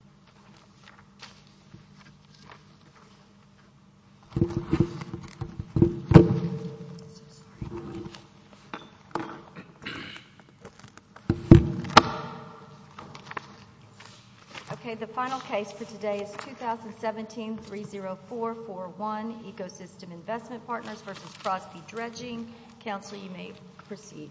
Crosby-Dredging. Okay, the final case for today is 2017-30441 Ecosystem Investment Partners v. Crosby-Dredging. Counsel, you may proceed.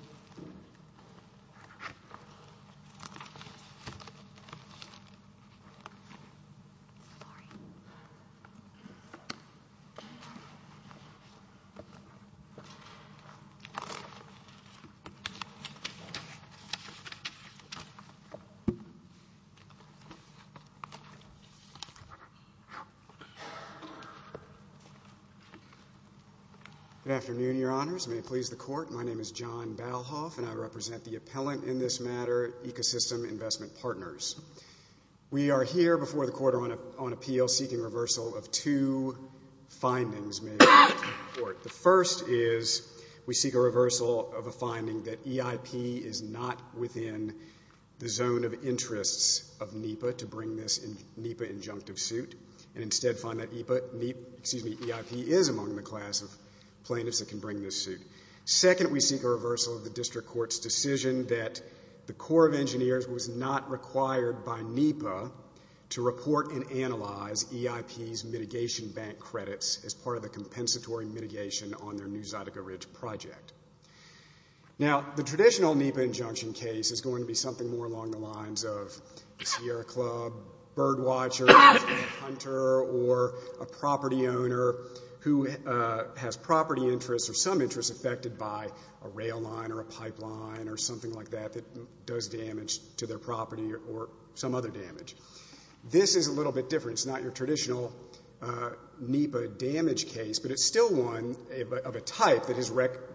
Good afternoon, Your Honors. May it please the Court, my name is John Balhoff and I represent the appellant in this matter, Ecosystem Investment Partners. We are here before the Court on appeal seeking reversal of two findings made to the Court. The first is we seek a reversal of a finding that EIP is not within the zone of interests of NEPA to bring this NEPA injunctive suit and instead find that NEPA, excuse me, EIP is among the class of plaintiffs that can bring this suit. Second, we seek a reversal of the District Court's decision that the Corps of Engineers was not required by NEPA to report and analyze EIP's mitigation bank credits as part of the compensatory mitigation on their New Zydeco Ridge project. Now, the traditional NEPA injunction case is going to be something more along the lines of Sierra Club, Birdwatcher, Hunter, or a property owner who has property interests or some interests affected by a rail line or a pipeline or something like that that does damage to their property or some other damage. This is a little bit different. It's not your traditional NEPA damage case, but it's still one of a type that has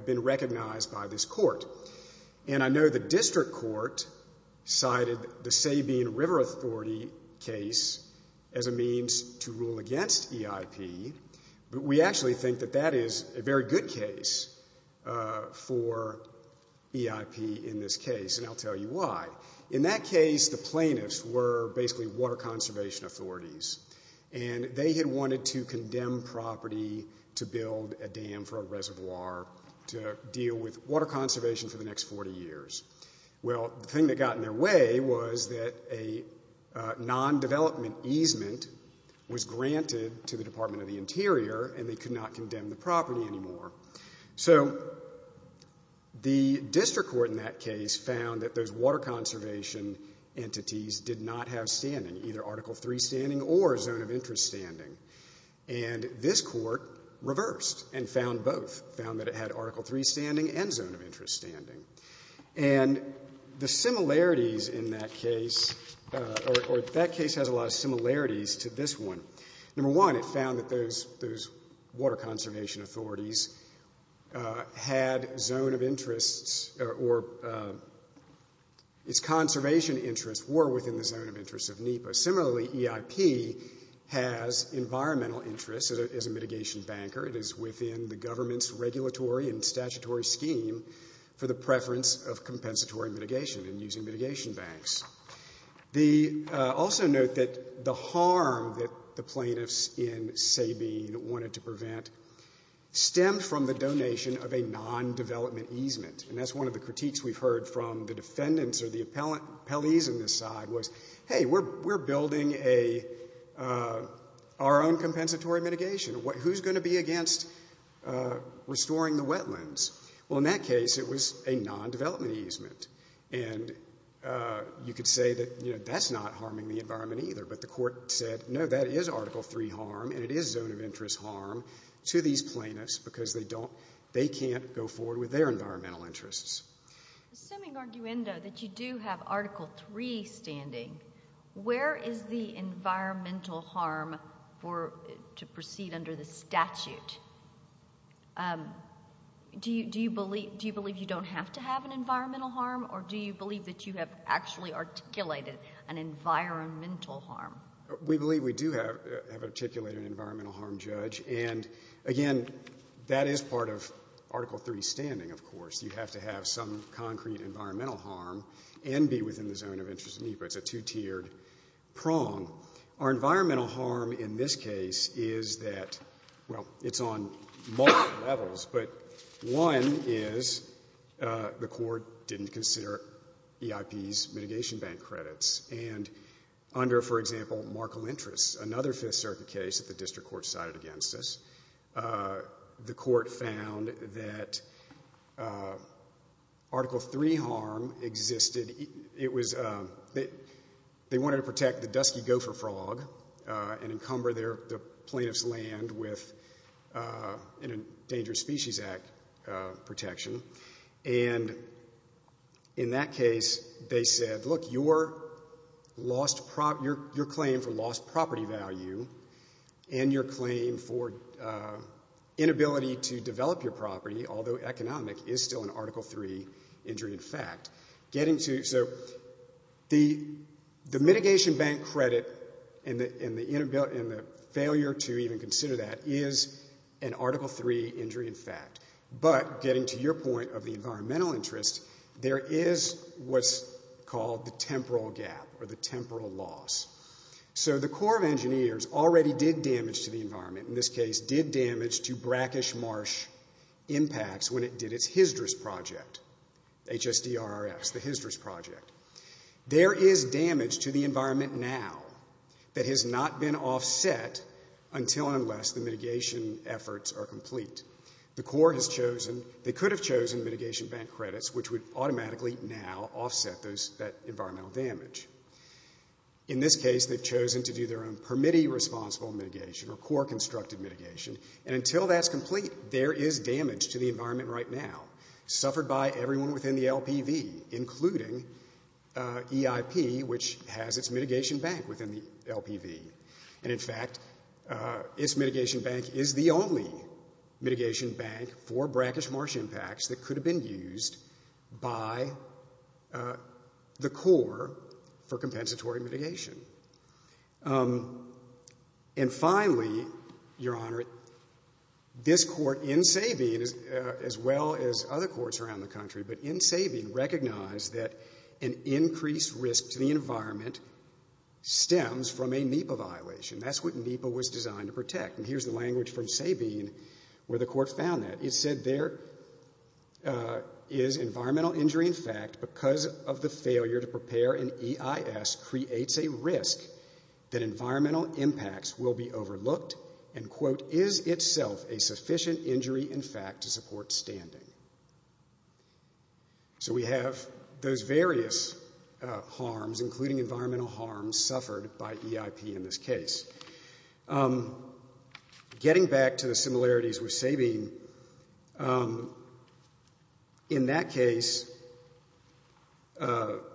been recognized by this Court. And I know the District Court cited the Sabine River Authority case as a means to rule against EIP, but we actually think that that is a very good case for EIP in this case, and I'll tell you why. In that case, the plaintiffs were basically water conservation authorities, and they had wanted to condemn property to build a dam for a reservoir to deal with water conservation for the next 40 years. Well, the thing that got in their way was that a non-development easement was granted to the Department of the Interior, and they could not condemn the property anymore. So the District Court in that case found that those water conservation entities did not have standing, either Article III standing or a zone of interest standing, and this Court reversed and found both, found that it had Article III standing and zone of interest standing. And the similarities in that case, or that case has a lot of similarities to this one. Number one, it found that those water conservation authorities had zone of interests, or its conservation interests were within the zone of interest of NEPA. Similarly, EIP has environmental interests as a mitigation banker. It is within the government's regulatory and statutory scheme for the preference of compensatory mitigation and using mitigation banks. Also note that the harm that the plaintiffs in Sabine wanted to prevent stemmed from the donation of a non-development easement, and that's one of the critiques we've heard from the defendants or the appellees on this side was, hey, we're building our own compensatory mitigation. Who's going to be against restoring the wetlands? Well, in that case, it was a non-development easement, and you could say that that's not harming the environment either, but the Court said, no, that is Article III harm, and it is zone of interest harm to these plaintiffs because they can't go forward with their environmental interests. Assuming, arguendo, that you do have Article III standing, where is the environmental harm for to proceed under the statute? Do you believe you don't have to have an environmental harm, or do you believe that you have actually articulated an environmental harm? We believe we do have articulated an environmental harm, Judge, and again, that is part of Article III standing, of course. You have to have some concrete environmental harm and be within the zone of interest to me, but it's a two-tiered prong. Our environmental harm in this case is that, well, it's on multiple levels, but one is the Court didn't consider EIP's mitigation bank credits, and under, for example, Markle Interest, another Fifth Circuit case that the District Court sided against us, the Court found that Article III harm existed, it was that they wanted to protect the dusky gopher frog and encumber the plaintiff's land with an Endangered Species Act protection, and in that case, they said, look, your claim for lost property value and your claim for inability to develop your property, although economic, is still an Article III injury in fact. So the mitigation bank credit and the failure to even consider that is an Article III injury in fact, but getting to your point of the environmental interest, there is what's called the temporal gap or the temporal loss. So the Corps of Engineers already did damage to the environment, in this case, did damage to brackish marsh impacts when it did its HYSDRS project, H-S-D-R-S, the HYSDRS project. There is damage to the environment now that has not been offset until and unless the mitigation efforts are complete. The Corps has chosen, they could have chosen mitigation bank credits, which would automatically now offset that environmental damage. In this case, they've done that. Until that's complete, there is damage to the environment right now suffered by everyone within the LPV, including EIP, which has its mitigation bank within the LPV. And in fact, its mitigation bank is the only mitigation bank for brackish marsh impacts that could have been used by the Corps for compensatory mitigation. And finally, Your Honor, this court in Sabine, as well as other courts around the country, but in Sabine, recognized that an increased risk to the environment stems from a NEPA violation. That's what NEPA was designed to protect. And here's the language from Sabine where the court found that. It said there is environmental injury in fact because of the failure to prepare an EIS creates a risk that environmental impacts will be overlooked and quote, is itself a sufficient injury in fact to support standing. So we have those various harms, including environmental harms, suffered by EIP in this case. Getting back to the similarities with Sabine, in that case, the EIS was designed to protect EIP.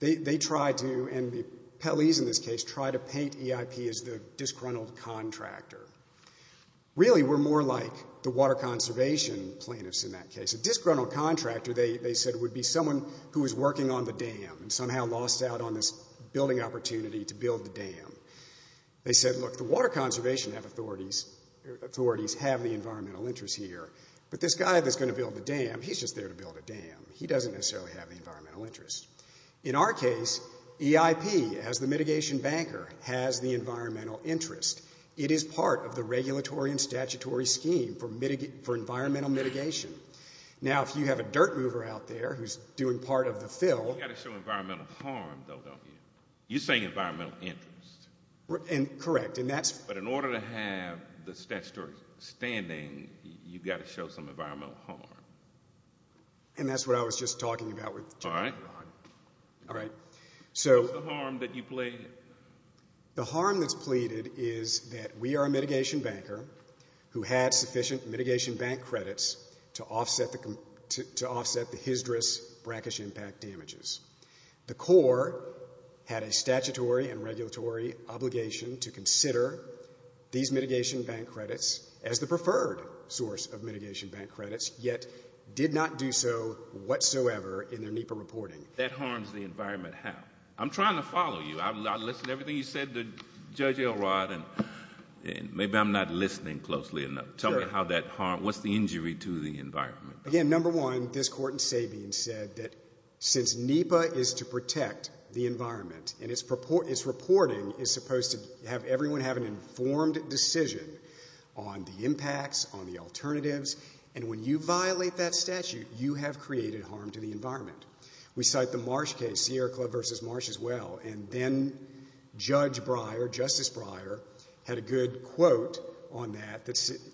They tried to, and Pelley's in this case, tried to paint EIP as the disgruntled contractor. Really we're more like the water conservation plaintiffs in that case. A disgruntled contractor, they said, would be someone who is working on the dam and somehow lost out on this building opportunity to build the dam. They said, look, the water conservation authorities have the environmental interest here, but this guy that's going to build the dam, he's just there to build a dam. He doesn't necessarily have the environmental interest. In our case, EIP, as the mitigation banker, has the environmental interest. It is part of the regulatory and statutory scheme for environmental mitigation. Now, if you have a dirt mover out there who's doing part of the fill... You've got to show environmental harm, though, don't you? You're saying environmental interest. Correct, and that's... But in order to have the statutory standing, you've got to show some environmental harm. And that's what I was just talking about with... All right. All right. So... What's the harm that you pleaded? The harm that's pleaded is that we are a mitigation banker who had sufficient mitigation bank credits to offset the hysteris, brackish impact damages. The Corps had a statutory and regulatory obligation to consider these mitigation bank credits as the preferred source of mitigation bank credits, yet did not do so whatsoever in their NEPA reporting. That harms the environment how? I'm trying to follow you. I listened to everything you said to Judge Elrod, and maybe I'm not listening closely enough. Tell me how that harms... What's the injury to the environment? Again, number one, this Court in Sabine said that since NEPA is to protect the environment and its reporting is supposed to have everyone have an informed decision on the impacts, on the alternatives, and when you violate that statute, you have created harm to the environment. We cite the Marsh case, Sierra Club v. Marsh as well, and then Judge Breyer, Justice Breyer, had a good quote on that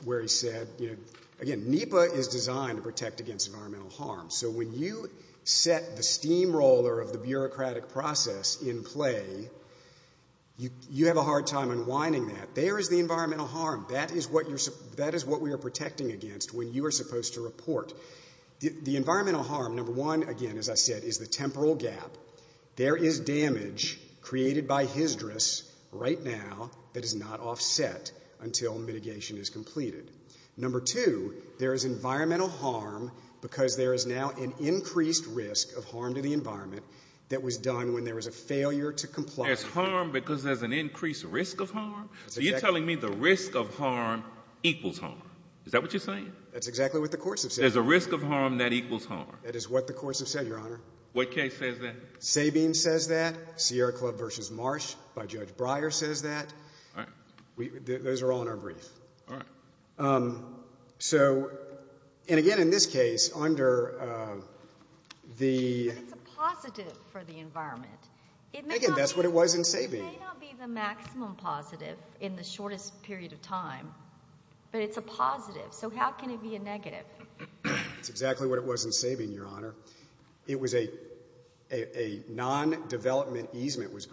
where he said, you know, again, NEPA is designed to protect against environmental harm. So when you set the steamroller of the bureaucratic process in play, you have a hard time unwinding that. There is the environmental harm. That is what we are protecting against when you are supposed to report. The environmental harm, number one, again, as I said, is the temporal gap. There is damage created by hysteris right now that is not offset until mitigation is completed. Number two, there is environmental harm because there is now an increased risk of harm to the environment that was done when there was a failure to comply. There's harm because there's an increased risk of harm? That's exactly... So you're telling me the risk of harm equals harm. Is that what you're saying? That's exactly what the courts have said. There's a risk of harm that equals harm. That is what the courts have said, Your Honor. What case says that? Sabine says that. Sierra Club v. Marsh by Judge Breyer says that. Those are all in our brief. All right. So, and again, in this case, under the... But it's a positive for the environment. Again, that's what it was in Sabine. It may not be the maximum positive in the shortest period of time, but it's a positive. So how can it be a negative? That's exactly what it was in Sabine, Your Honor. It was a non-development easement was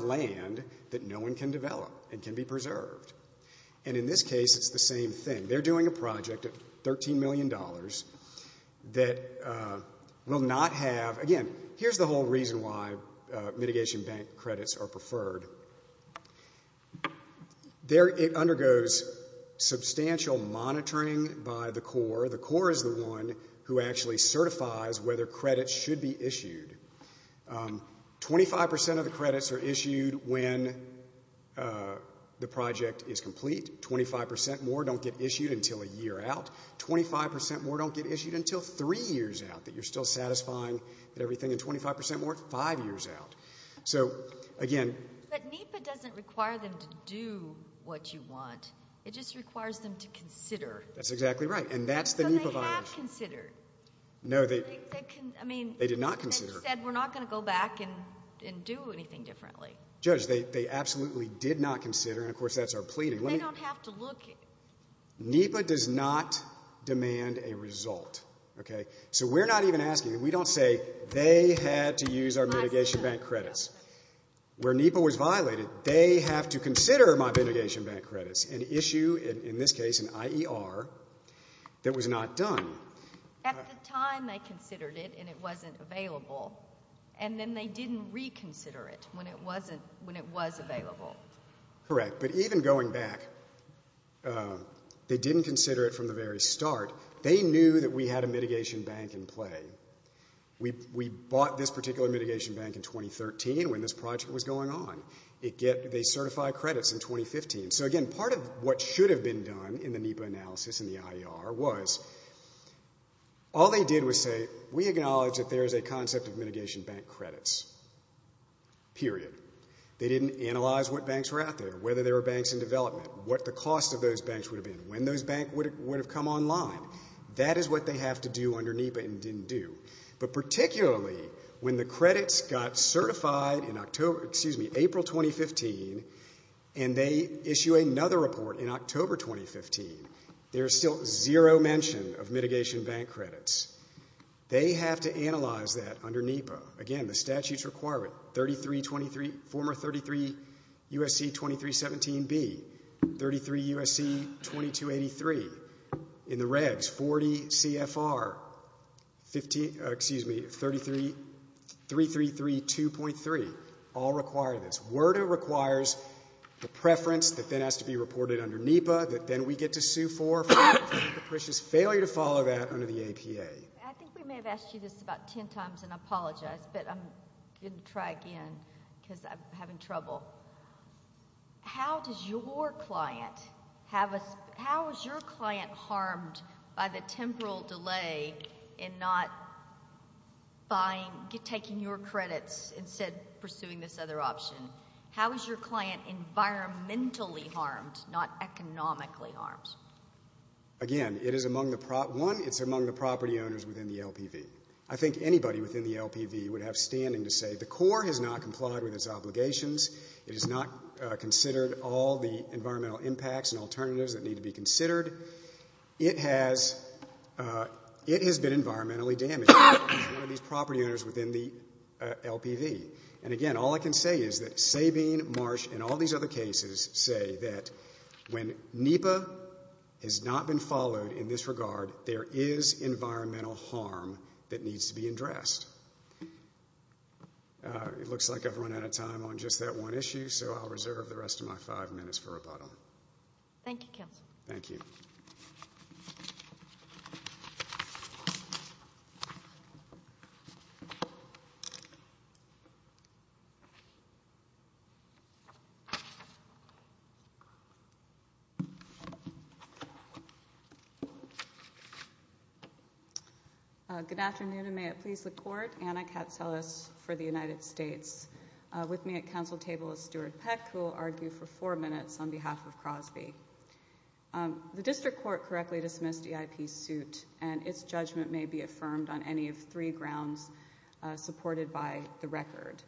land that no one can develop and can be preserved. And in this case, it's the same thing. They're doing a project of $13 million that will not have... Again, here's the whole reason why mitigation bank credits are preferred. It undergoes substantial monitoring by the Corps. The Corps is the one who actually certifies whether credits should be issued. 25% of the credits are issued when the project is complete. 25% more don't get issued until a year out. 25% more don't get issued until three years out, that you're still satisfying everything. And 25% more, five years out. So, again... But NEPA doesn't require them to do what you want. It just requires them to consider. That's exactly right. And that's the NEPA violation. But they have considered. No, they... I mean... They did not consider. They just said, we're not going to go back and do anything differently. Judge, they absolutely did not consider, and of course, that's our pleading. They don't have to look... NEPA does not demand a result, okay? So we're not even asking. We don't say, they had to use our mitigation bank credits. Where NEPA was violated, they have to consider my mitigation bank credits. An issue, in this case, an IER, that was not done. At the time, they considered it, and it wasn't available. And then they didn't reconsider it when it wasn't... When it was available. Correct. But even going back, they didn't consider it from the very start. They knew that we had a mitigation bank in play. We bought this particular mitigation bank in 2013, when this project was going on. It get... They certify credits in 2015. So again, part of what should have been done in the NEPA analysis, in the IER, was... All they did was say, we acknowledge that there is a concept of mitigation bank credits. Period. They didn't analyze what banks were out there, whether there were banks in development, what the cost of those banks would have been, when those banks would have come online. That is what they have to do under NEPA, and didn't do. But particularly, when the credits got certified in April 2015, and they issue another report in October 2015, there is still zero mention of mitigation bank credits. They have to analyze that under NEPA. Again, the statute's requirement, former 33 U.S.C. 2317B, 33 U.S.C. 2283. In the regs, 40 CFR, excuse me, 333 2.3. All requirements. WERDA requires the preference that then has to be reported under NEPA, that then we get to sue for, for the capricious failure to follow that under the APA. I think we may have asked you this about ten times, and I apologize, but I'm going to try again, because I'm having trouble. How does your client have a, how is your client harmed by the temporal delay in not buying, taking your credits, instead pursuing this other option? How is your client environmentally harmed, not economically harmed? Again, it is among the, one, it's among the property owners within the LPV. I think anybody within the LPV would have standing to say the CORE has not complied with its obligations. It has not considered all the environmental impacts and alternatives that need to be considered. It has, it has been environmentally damaged by one of these property owners within the LPV. And again, all I can say is that Sabine, Marsh, and all these other cases say that when NEPA has not been followed in this regard, there is environmental harm that needs to be addressed. It looks like I've run out of time on just that one issue, so I'll reserve the rest of my five minutes for rebuttal. Thank you, Counselor. Thank you. Good afternoon, and may it please the Court, Anna Katselis for the United States. With me at counsel table is Stuart Peck, who will argue for four minutes on behalf of Crosby. The district court correctly dismissed EIP's suit, and its judgment may be affirmed on any of three grounds supported by the record.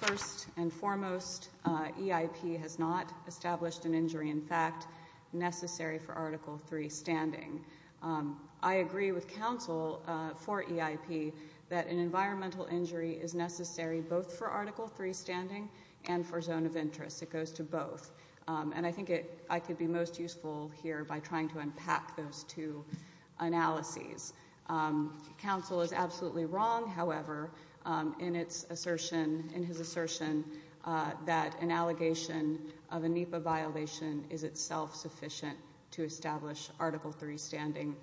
First and foremost, EIP has not established an injury, in fact, necessary for Article 3 standing. I agree with counsel for EIP that an environmental injury is necessary both for Article 3 standing and for zone of interest. It goes to both. And I think I could be most useful here by trying to unpack those two analyses. Counsel is absolutely wrong, however, in his assertion that an allegation of a NEPA violation is itself sufficient to establish Article 3 standing.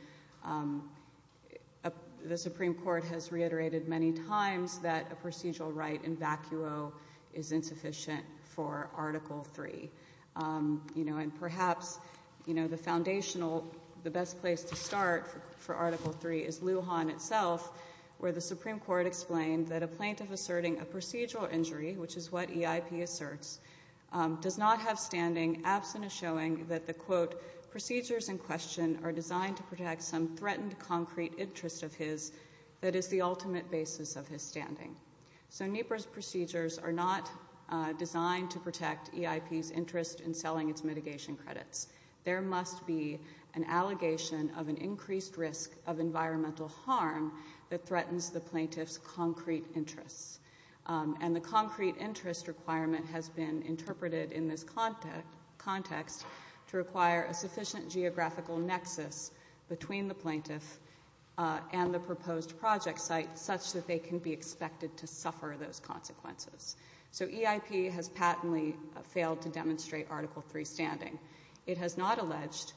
The Supreme Court has reiterated many times that a procedural right in vacuo is insufficient for Article 3. And perhaps the foundational, the best place to start for Article 3 is Lujan itself, where the Supreme Court explained that a plaintiff asserting a procedural injury, which is what EIP asserts, does not have standing absent a showing that the, quote, procedures in question are designed to protect some threatened concrete interest of his that is the ultimate basis of his standing. So NEPA's procedures are not designed to protect EIP's interest in selling its mitigation credits. There must be an allegation of an increased risk of environmental harm that threatens the plaintiff's concrete interests. And the concrete interest requirement has been interpreted in this context to require a sufficient geographical nexus between the plaintiff and the proposed project site such that they can be expected to suffer those consequences. So EIP has patently failed to demonstrate Article 3 standing. It has not alleged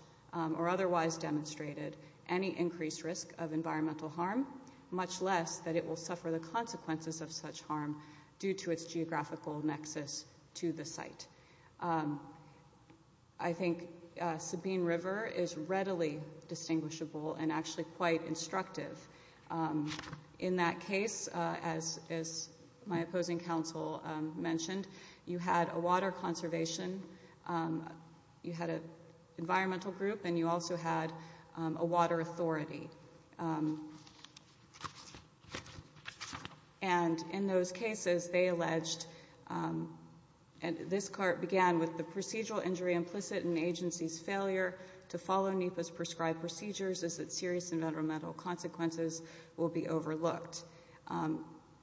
or otherwise demonstrated any increased risk of environmental harm, much less that it will suffer the consequences of such harm due to its geographical nexus to the site. I think Sabine River is readily distinguishable and actually quite instructive. In that case, as my opposing counsel mentioned, you had a water conservation, you had an environmental group, and you also had a water authority. And in those cases, they alleged, and this part began with the procedural injury implicit in the agency's failure to follow NEPA's prescribed procedures as its serious environmental consequences will be overlooked.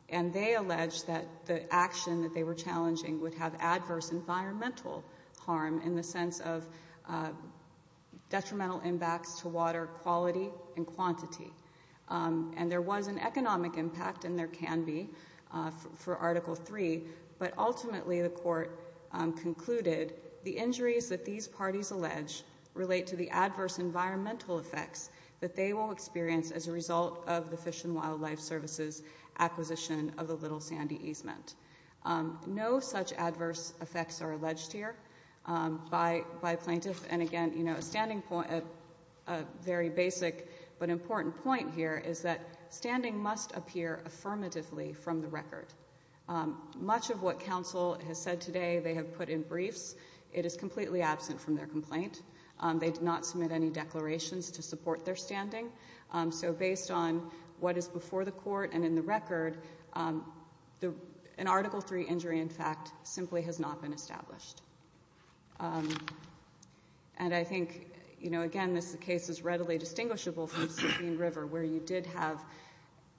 And they alleged that the action that they were challenging would have adverse environmental harm, in the sense of detrimental impacts to water quality and quantity. And there was an economic impact, and there can be, for Article 3. But ultimately, the court concluded the injuries that these parties allege relate to the adverse environmental effects that they will experience as a result of the Fish and Wildlife Service's acquisition of the Little Sandy easement. No such adverse effects are alleged here by plaintiffs. And again, a very basic but important point here is that standing must appear affirmatively from the record. Much of what counsel has said today they have put in briefs, it is completely absent from their complaint. They did not submit any declarations to support their standing. So based on what is before the court and in the record, an Article 3 injury in fact simply has not been established. And I think, again, this case is readily distinguishable from Sabine River, where you did have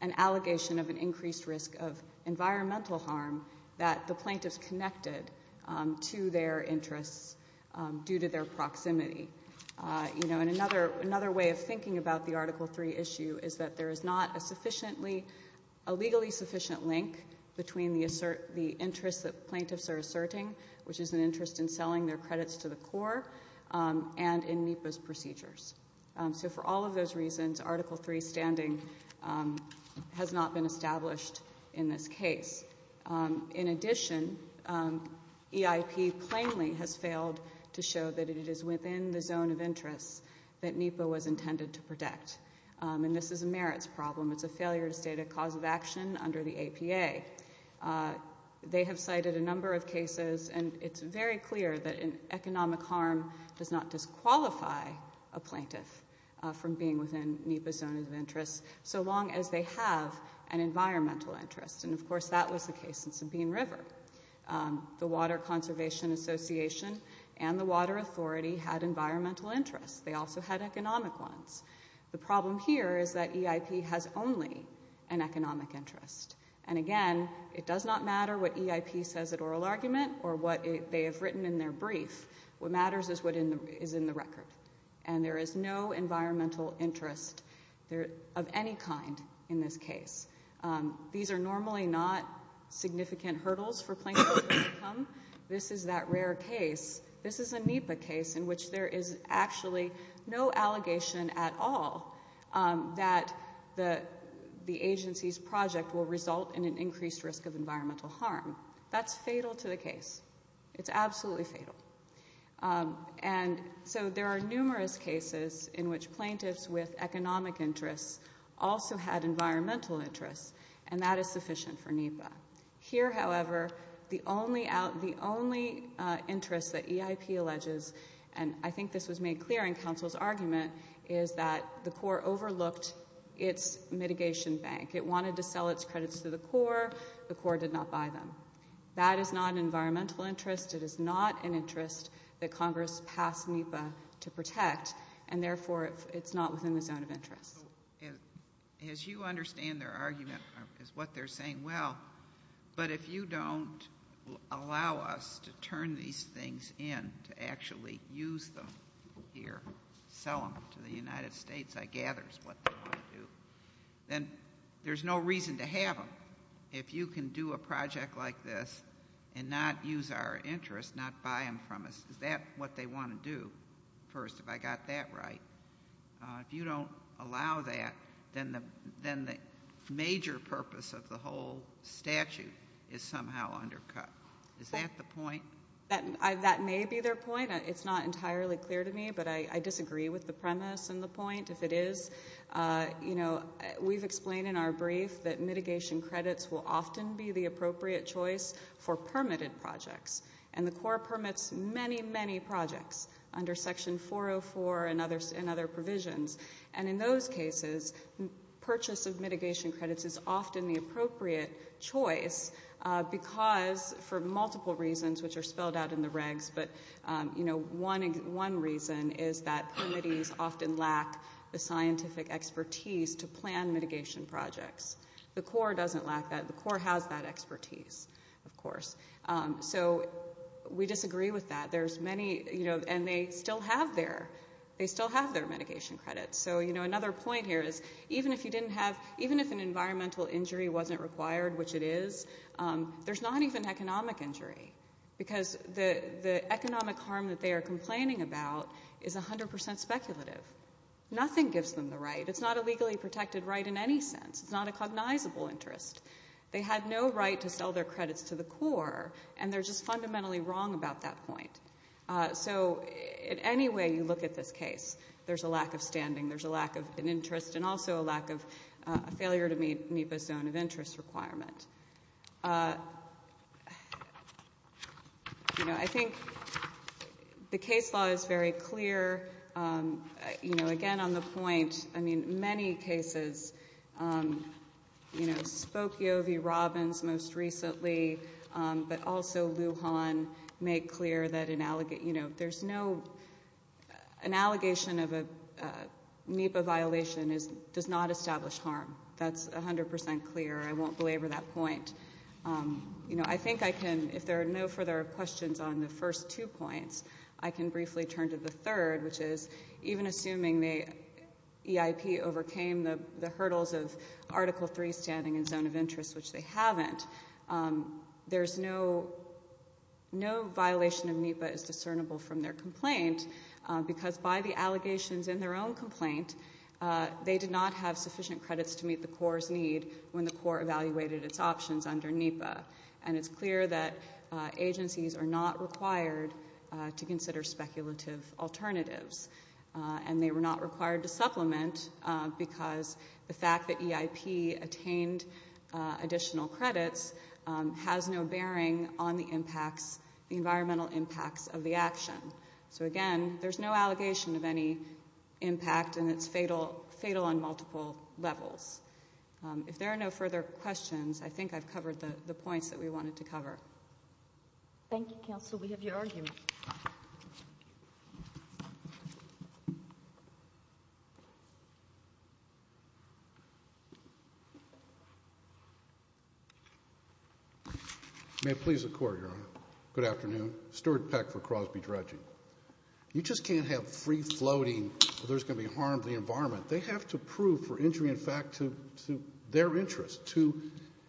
an allegation of an increased risk of environmental harm that the plaintiffs connected to their interests due to their proximity. And another way of thinking about the Article 3 issue is that there is not a legally sufficient link between the interests that plaintiffs are asserting, which is an interest in selling their credits to the Corps, and in NEPA's procedures. So for all of those reasons, Article 3 standing has not been established in this case. In addition, EIP plainly has failed to show that it is within the zone of interest that NEPA was intended to protect. And this is a merits problem. It's a failure to state a cause of action under the APA. They have cited a number of cases, and it's very clear that economic harm does not disqualify a plaintiff from being within NEPA's zone of interest so long as they have an environmental interest. And of course, that was the case in Sabine River. The Water Conservation Association and the Water Authority had environmental interests. They also had economic ones. The problem here is that EIP has only an economic interest. And again, it does not matter what EIP says at oral argument or what they have written in their brief. What matters is what is in the record. And there is no environmental interest of any kind in this case. These are normally not significant hurdles for plaintiffs to overcome. This is that rare case. This is a NEPA case in which there is actually no allegation at all that the agency's project will result in an increased risk of environmental harm. That's fatal to the case. It's absolutely fatal. And so there are numerous cases in which plaintiffs with economic interests also had environmental interests. And that is sufficient for NEPA. Here, however, the only interest that EIP alleges, and I think this was made clear in counsel's argument, is that the Corps overlooked its mitigation bank. It wanted to sell its credits to the Corps. The Corps did not buy them. That is not an environmental interest. It is not an interest that Congress passed NEPA to protect. And therefore, it's not within the zone of interest. So, as you understand their argument, as what they're saying, well, but if you don't allow us to turn these things in, to actually use them here, sell them to the United States, I gather is what they want to do, then there's no reason to have them. If you can do a project like this and not use our interest, not buy them from us, is that what they want to do first, if I got that right? If you don't allow that, then the major purpose of the whole statute is somehow undercut. Is that the point? That may be their point. It's not entirely clear to me, but I disagree with the premise and the point. If it is, you know, we've explained in our brief that mitigation credits will often be the appropriate choice for permitted projects. And the Corps permits many, many projects under Section 404 and other provisions. And in those cases, purchase of mitigation credits is often the appropriate choice because, for multiple reasons, which are spelled out in the regs, but, you know, one reason is that committees often lack the scientific expertise to plan mitigation projects. The Corps doesn't lack that. The Corps has that expertise, of course. So we disagree with that. There's many, you know, and they still have their mitigation credits. So, you know, another point here is even if you didn't have, even if an environmental injury wasn't required, which it is, there's not even economic injury because the economic harm that they are complaining about is 100% speculative. Nothing gives them the right. It's not a legally protected right in any sense. It's not a cognizable interest. They had no right to sell their credits to the Corps, and they're just fundamentally wrong about that point. So in any way you look at this case, there's a lack of standing. There's a lack of an interest and also a lack of a failure to meet MIPA's zone of interest requirement. You know, I think the case law is very clear, you know, again on the point, I mean, in many cases, you know, Spokio v. Robbins most recently, but also Lujan made clear that an allegation, you know, there's no, an allegation of a MIPA violation does not establish harm. That's 100% clear. I won't belabor that point. You know, I think I can, if there are no further questions on the first two points, I can briefly turn to the third, which is even assuming the EIP overcame the hurdles of Article III standing and zone of interest, which they haven't, there's no, no violation of MIPA is discernible from their complaint because by the allegations in their own complaint, they did not have sufficient credits to meet the Corps' need when the Corps evaluated its options under MIPA. And it's clear that agencies are not required to consider speculative alternatives and they were not required to supplement because the fact that EIP attained additional credits has no bearing on the impacts, the environmental impacts of the action. So again, there's no allegation of any impact and it's fatal, fatal on multiple levels. If there are no further questions, I think I've covered the points that we wanted to cover. Thank you, Counsel. We have your argument. May it please the Court, Your Honor. Good afternoon. Stuart Peck for Crosby Trudging. You just can't have free floating where there's going to be harm to the environment. They have to prove for injury in fact to their interest, to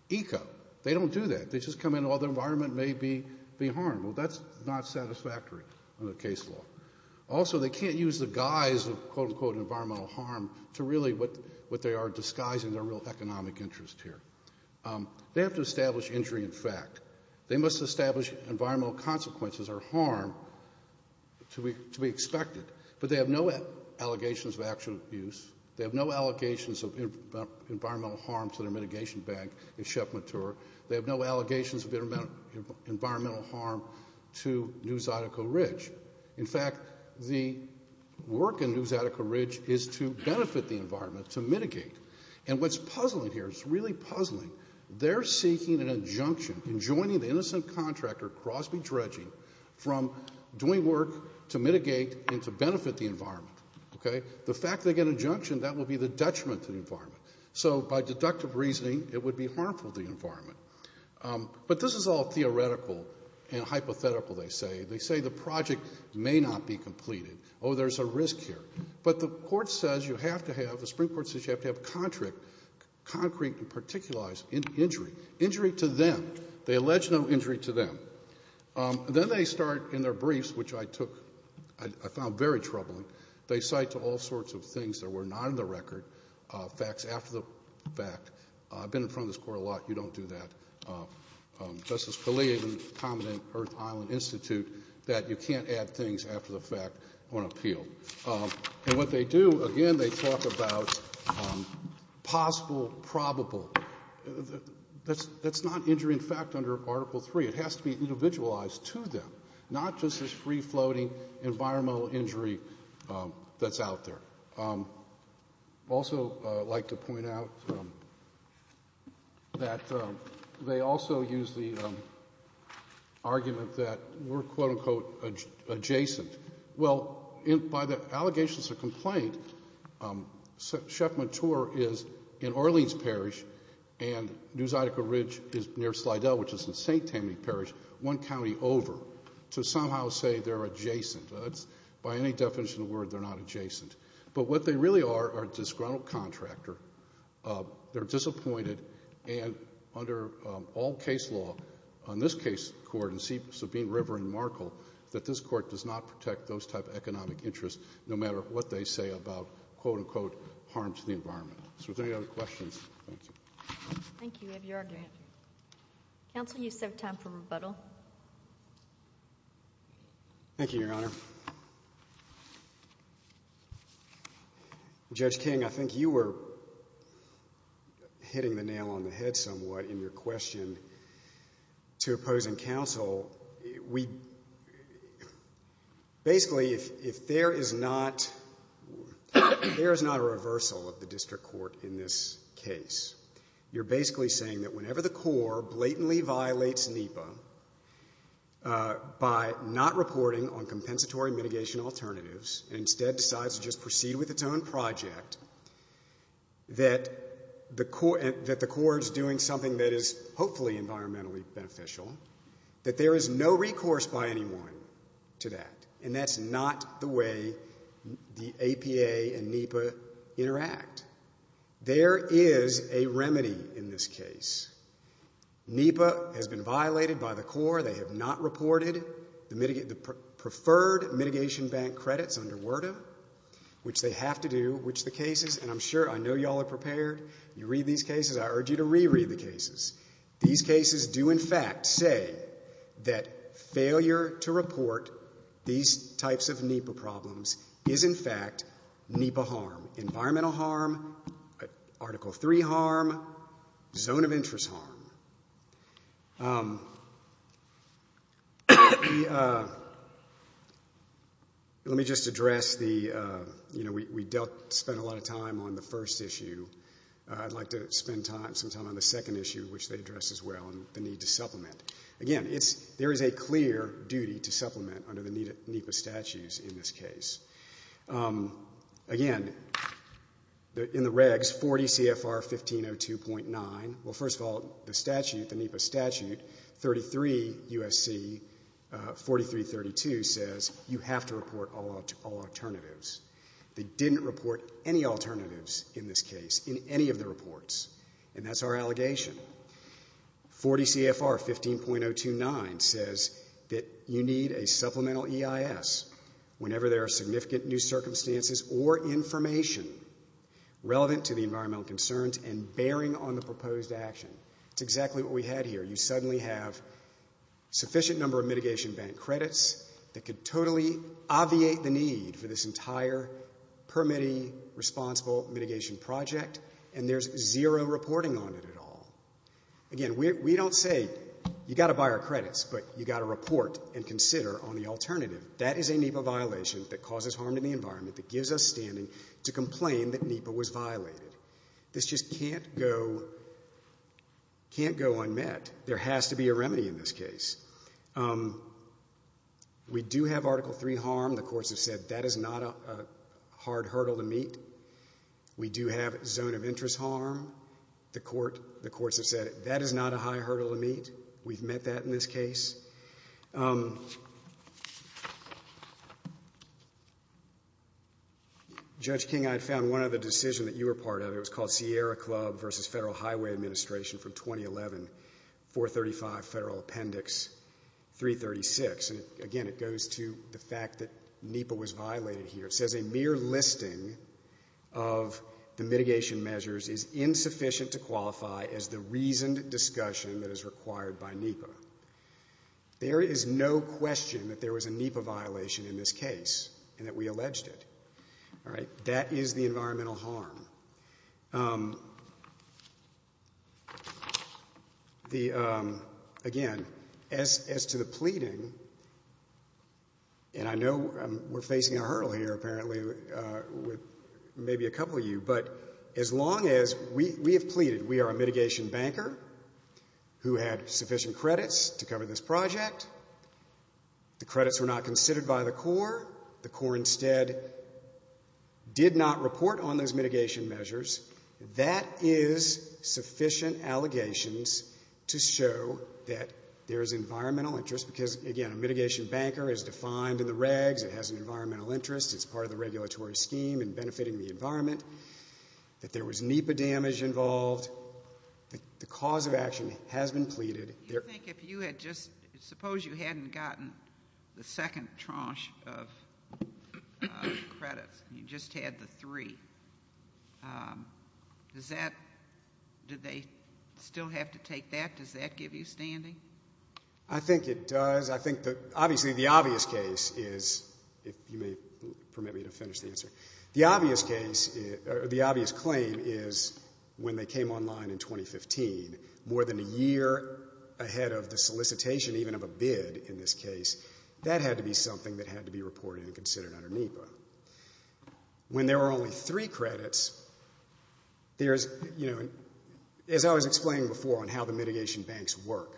EECA. They don't do that. They just come in while the environment may be harmed. Well, that's not satisfactory in the case law. Also, they can't use the guise of quote, unquote environmental harm to really what they are disguising their real economic interest here. They have to establish injury in fact. They must establish environmental consequences or harm to be expected. But they have no allegations of actual abuse. They have no allegations of environmental harm to their mitigation bank in Chef Mature. They have no allegations of environmental harm to New Zydeco Ridge. In fact, the work in New Zydeco Ridge is to benefit the environment, to mitigate. And what's puzzling here, it's really puzzling, they're seeking an injunction in joining the innocent contractor, Crosby Trudging, from doing work to mitigate and to benefit the environment, okay? The fact they get an injunction, that would be the detriment to the environment. So by deductive reasoning, it would be harmful to the environment. But this is all theoretical and hypothetical, they say. They say the project may not be completed. Oh, there's a risk here. But the court says you have to have, the Supreme Court says you have to have concrete and particularized injury, injury to them. They allege no injury to them. Then they start in their briefs, which I took, I found very troubling. They cite to all sorts of things that were not in the record, facts after the fact. I've been in front of this court a lot. You don't do that. Justice Kelley even commented at Earth Island Institute that you can't add things after the fact on appeal. And what they do, again, they talk about possible, probable. That's not injury in fact under Article 3. It has to be individualized to them, not just this free-floating environmental injury that's out there. I'd also like to point out that they also use the argument that we're, quote, unquote, adjacent. Well, by the allegations of complaint, Chef Mouture is in Orleans Parish and New Zydeco Ridge is near Slidell, which is in St. Tammany Parish, one county over, to somehow say they're adjacent. That's, by any definition of the word, they're not adjacent. But what they really are, are disgruntled contractor. They're disappointed and under all case law on this case court in Sabine River in Markle that this court does not protect those type of economic interests no matter what they say about, quote, unquote, harm to the environment. So if there are any other questions. Thank you. Thank you. We have your argument. Counsel, you still have time for rebuttal. Thank you, Your Honor. Judge King, I think you were hitting the nail on the head somewhat in your question to opposing counsel, we, basically if there is not, there is not a reversal of the district court in this case. You're basically saying that whenever the core blatantly violates NEPA by not reporting on compensatory mitigation alternatives and instead decides to just proceed with its own project, that the core is doing something that is hopefully environmentally beneficial, that there is no recourse by anyone to that. And that's not the way the APA and NEPA interact. There is a remedy in this case. NEPA has been violated by the core. They have not reported the preferred mitigation bank credits under WERDA, which they have to do, which the cases, and I'm sure, I know you all are prepared. You read these cases. I urge you to reread the cases. These cases do, in fact, say that failure to report these types of NEPA problems is, in fact, NEPA harm, environmental harm, Article III harm, zone of interest harm. Let me just address the, you know, we spent a lot of time on the first issue. I'd like to spend some time on the second issue, which they address as well, and the need to supplement. Again, there is a clear duty to supplement under the NEPA statutes in this case. Again, in the regs, 40 CFR 1502.9, well, first of all, the statute, the NEPA statute, 33 U.S.C. 4332 says you have to report all alternatives. They didn't report any alternatives in this case, in any of the reports, and that's our allegation. 40 CFR 15.029 says that you need a supplemental EIS whenever there are significant new circumstances or information relevant to the environmental concerns and bearing on the proposed action. It's exactly what we had here. You suddenly have a sufficient number of mitigation bank credits that could totally obviate the need for this entire permittee responsible mitigation project, and there's zero reporting on it at all. Again, we don't say you've got to buy our credits, but you've got to report and consider on the alternative. That is a NEPA violation that causes harm to the environment, that gives us standing to complain that NEPA was violated. This just can't go unmet. There has to be a remedy in this case. We do have Article III harm. The courts have said that is not a hard hurdle to meet. We do have zone of interest harm. The courts have said that is not a high hurdle to meet. We've met that in this case. Judge King, I found one other decision that you were part of. It was called Sierra Club versus Federal Highway Administration from 2011, 435 Federal Appendix 336. And again, it goes to the fact that NEPA was violated here. It says a mere listing of the mitigation measures is insufficient to qualify as the reasoned discussion that is required by NEPA. There is no question that there was a NEPA violation in this case and that we alleged it. All right? That is the environmental harm. The, again, as to the pleading, and I know we're facing a hurdle here apparently with maybe a couple of you, but as long as we have pleaded, we are a mitigation banker who had sufficient credits to cover this project. The credits were not considered by the court. The court instead did not report on those mitigation measures. That is sufficient allegations to show that there is environmental interest because, again, a mitigation banker is defined in the regs. It has an environmental interest. It's part of the regulatory scheme and benefiting the environment. That there was NEPA damage involved. The cause of action has been pleaded. Do you think if you had just, suppose you hadn't gotten the second tranche of credits and you just had the three, does that, do they still have to take that? Does that give you standing? I think it does. I think the, obviously the obvious case is, if you may permit me to finish the answer. The obvious case, or the obvious claim is when they came online in 2015, more than a year ahead of the solicitation, even of a bid in this case, that had to be something that had to be reported and considered under NEPA. When there were only three credits, there's, you know, as I was explaining before on how the mitigation banks work,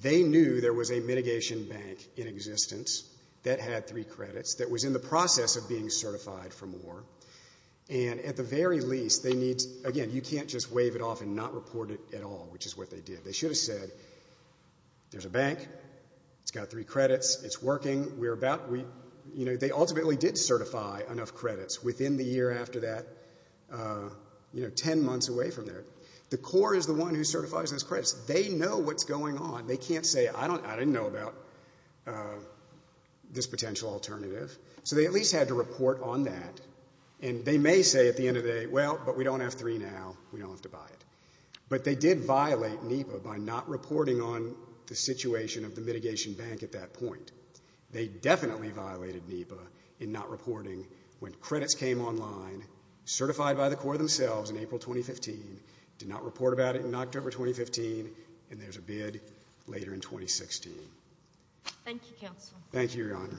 they knew there was a mitigation bank in existence that had three credits that was in the process of being certified for more. And at the very least, they need, again, you can't just wave it off and not report it at all, which is what they did. They should have said, there's a bank, it's got three credits, it's working. We're about, you know, they ultimately did certify enough credits within the year after that, you know, ten months away from there. The core is the one who certifies those credits. They know what's going on. They can't say, I don't, I didn't know about this potential alternative. So they at least had to report on that. And they may say at the end of the day, well, but we don't have three now. We don't have to buy it. But they did violate NEPA by not reporting on the situation of the mitigation bank at that point. They definitely violated NEPA in not reporting when credits came online, certified by the core themselves in April 2015, did not report about it in October 2015, and there's a bid later in 2016. Thank you, counsel. Thank you, your honor.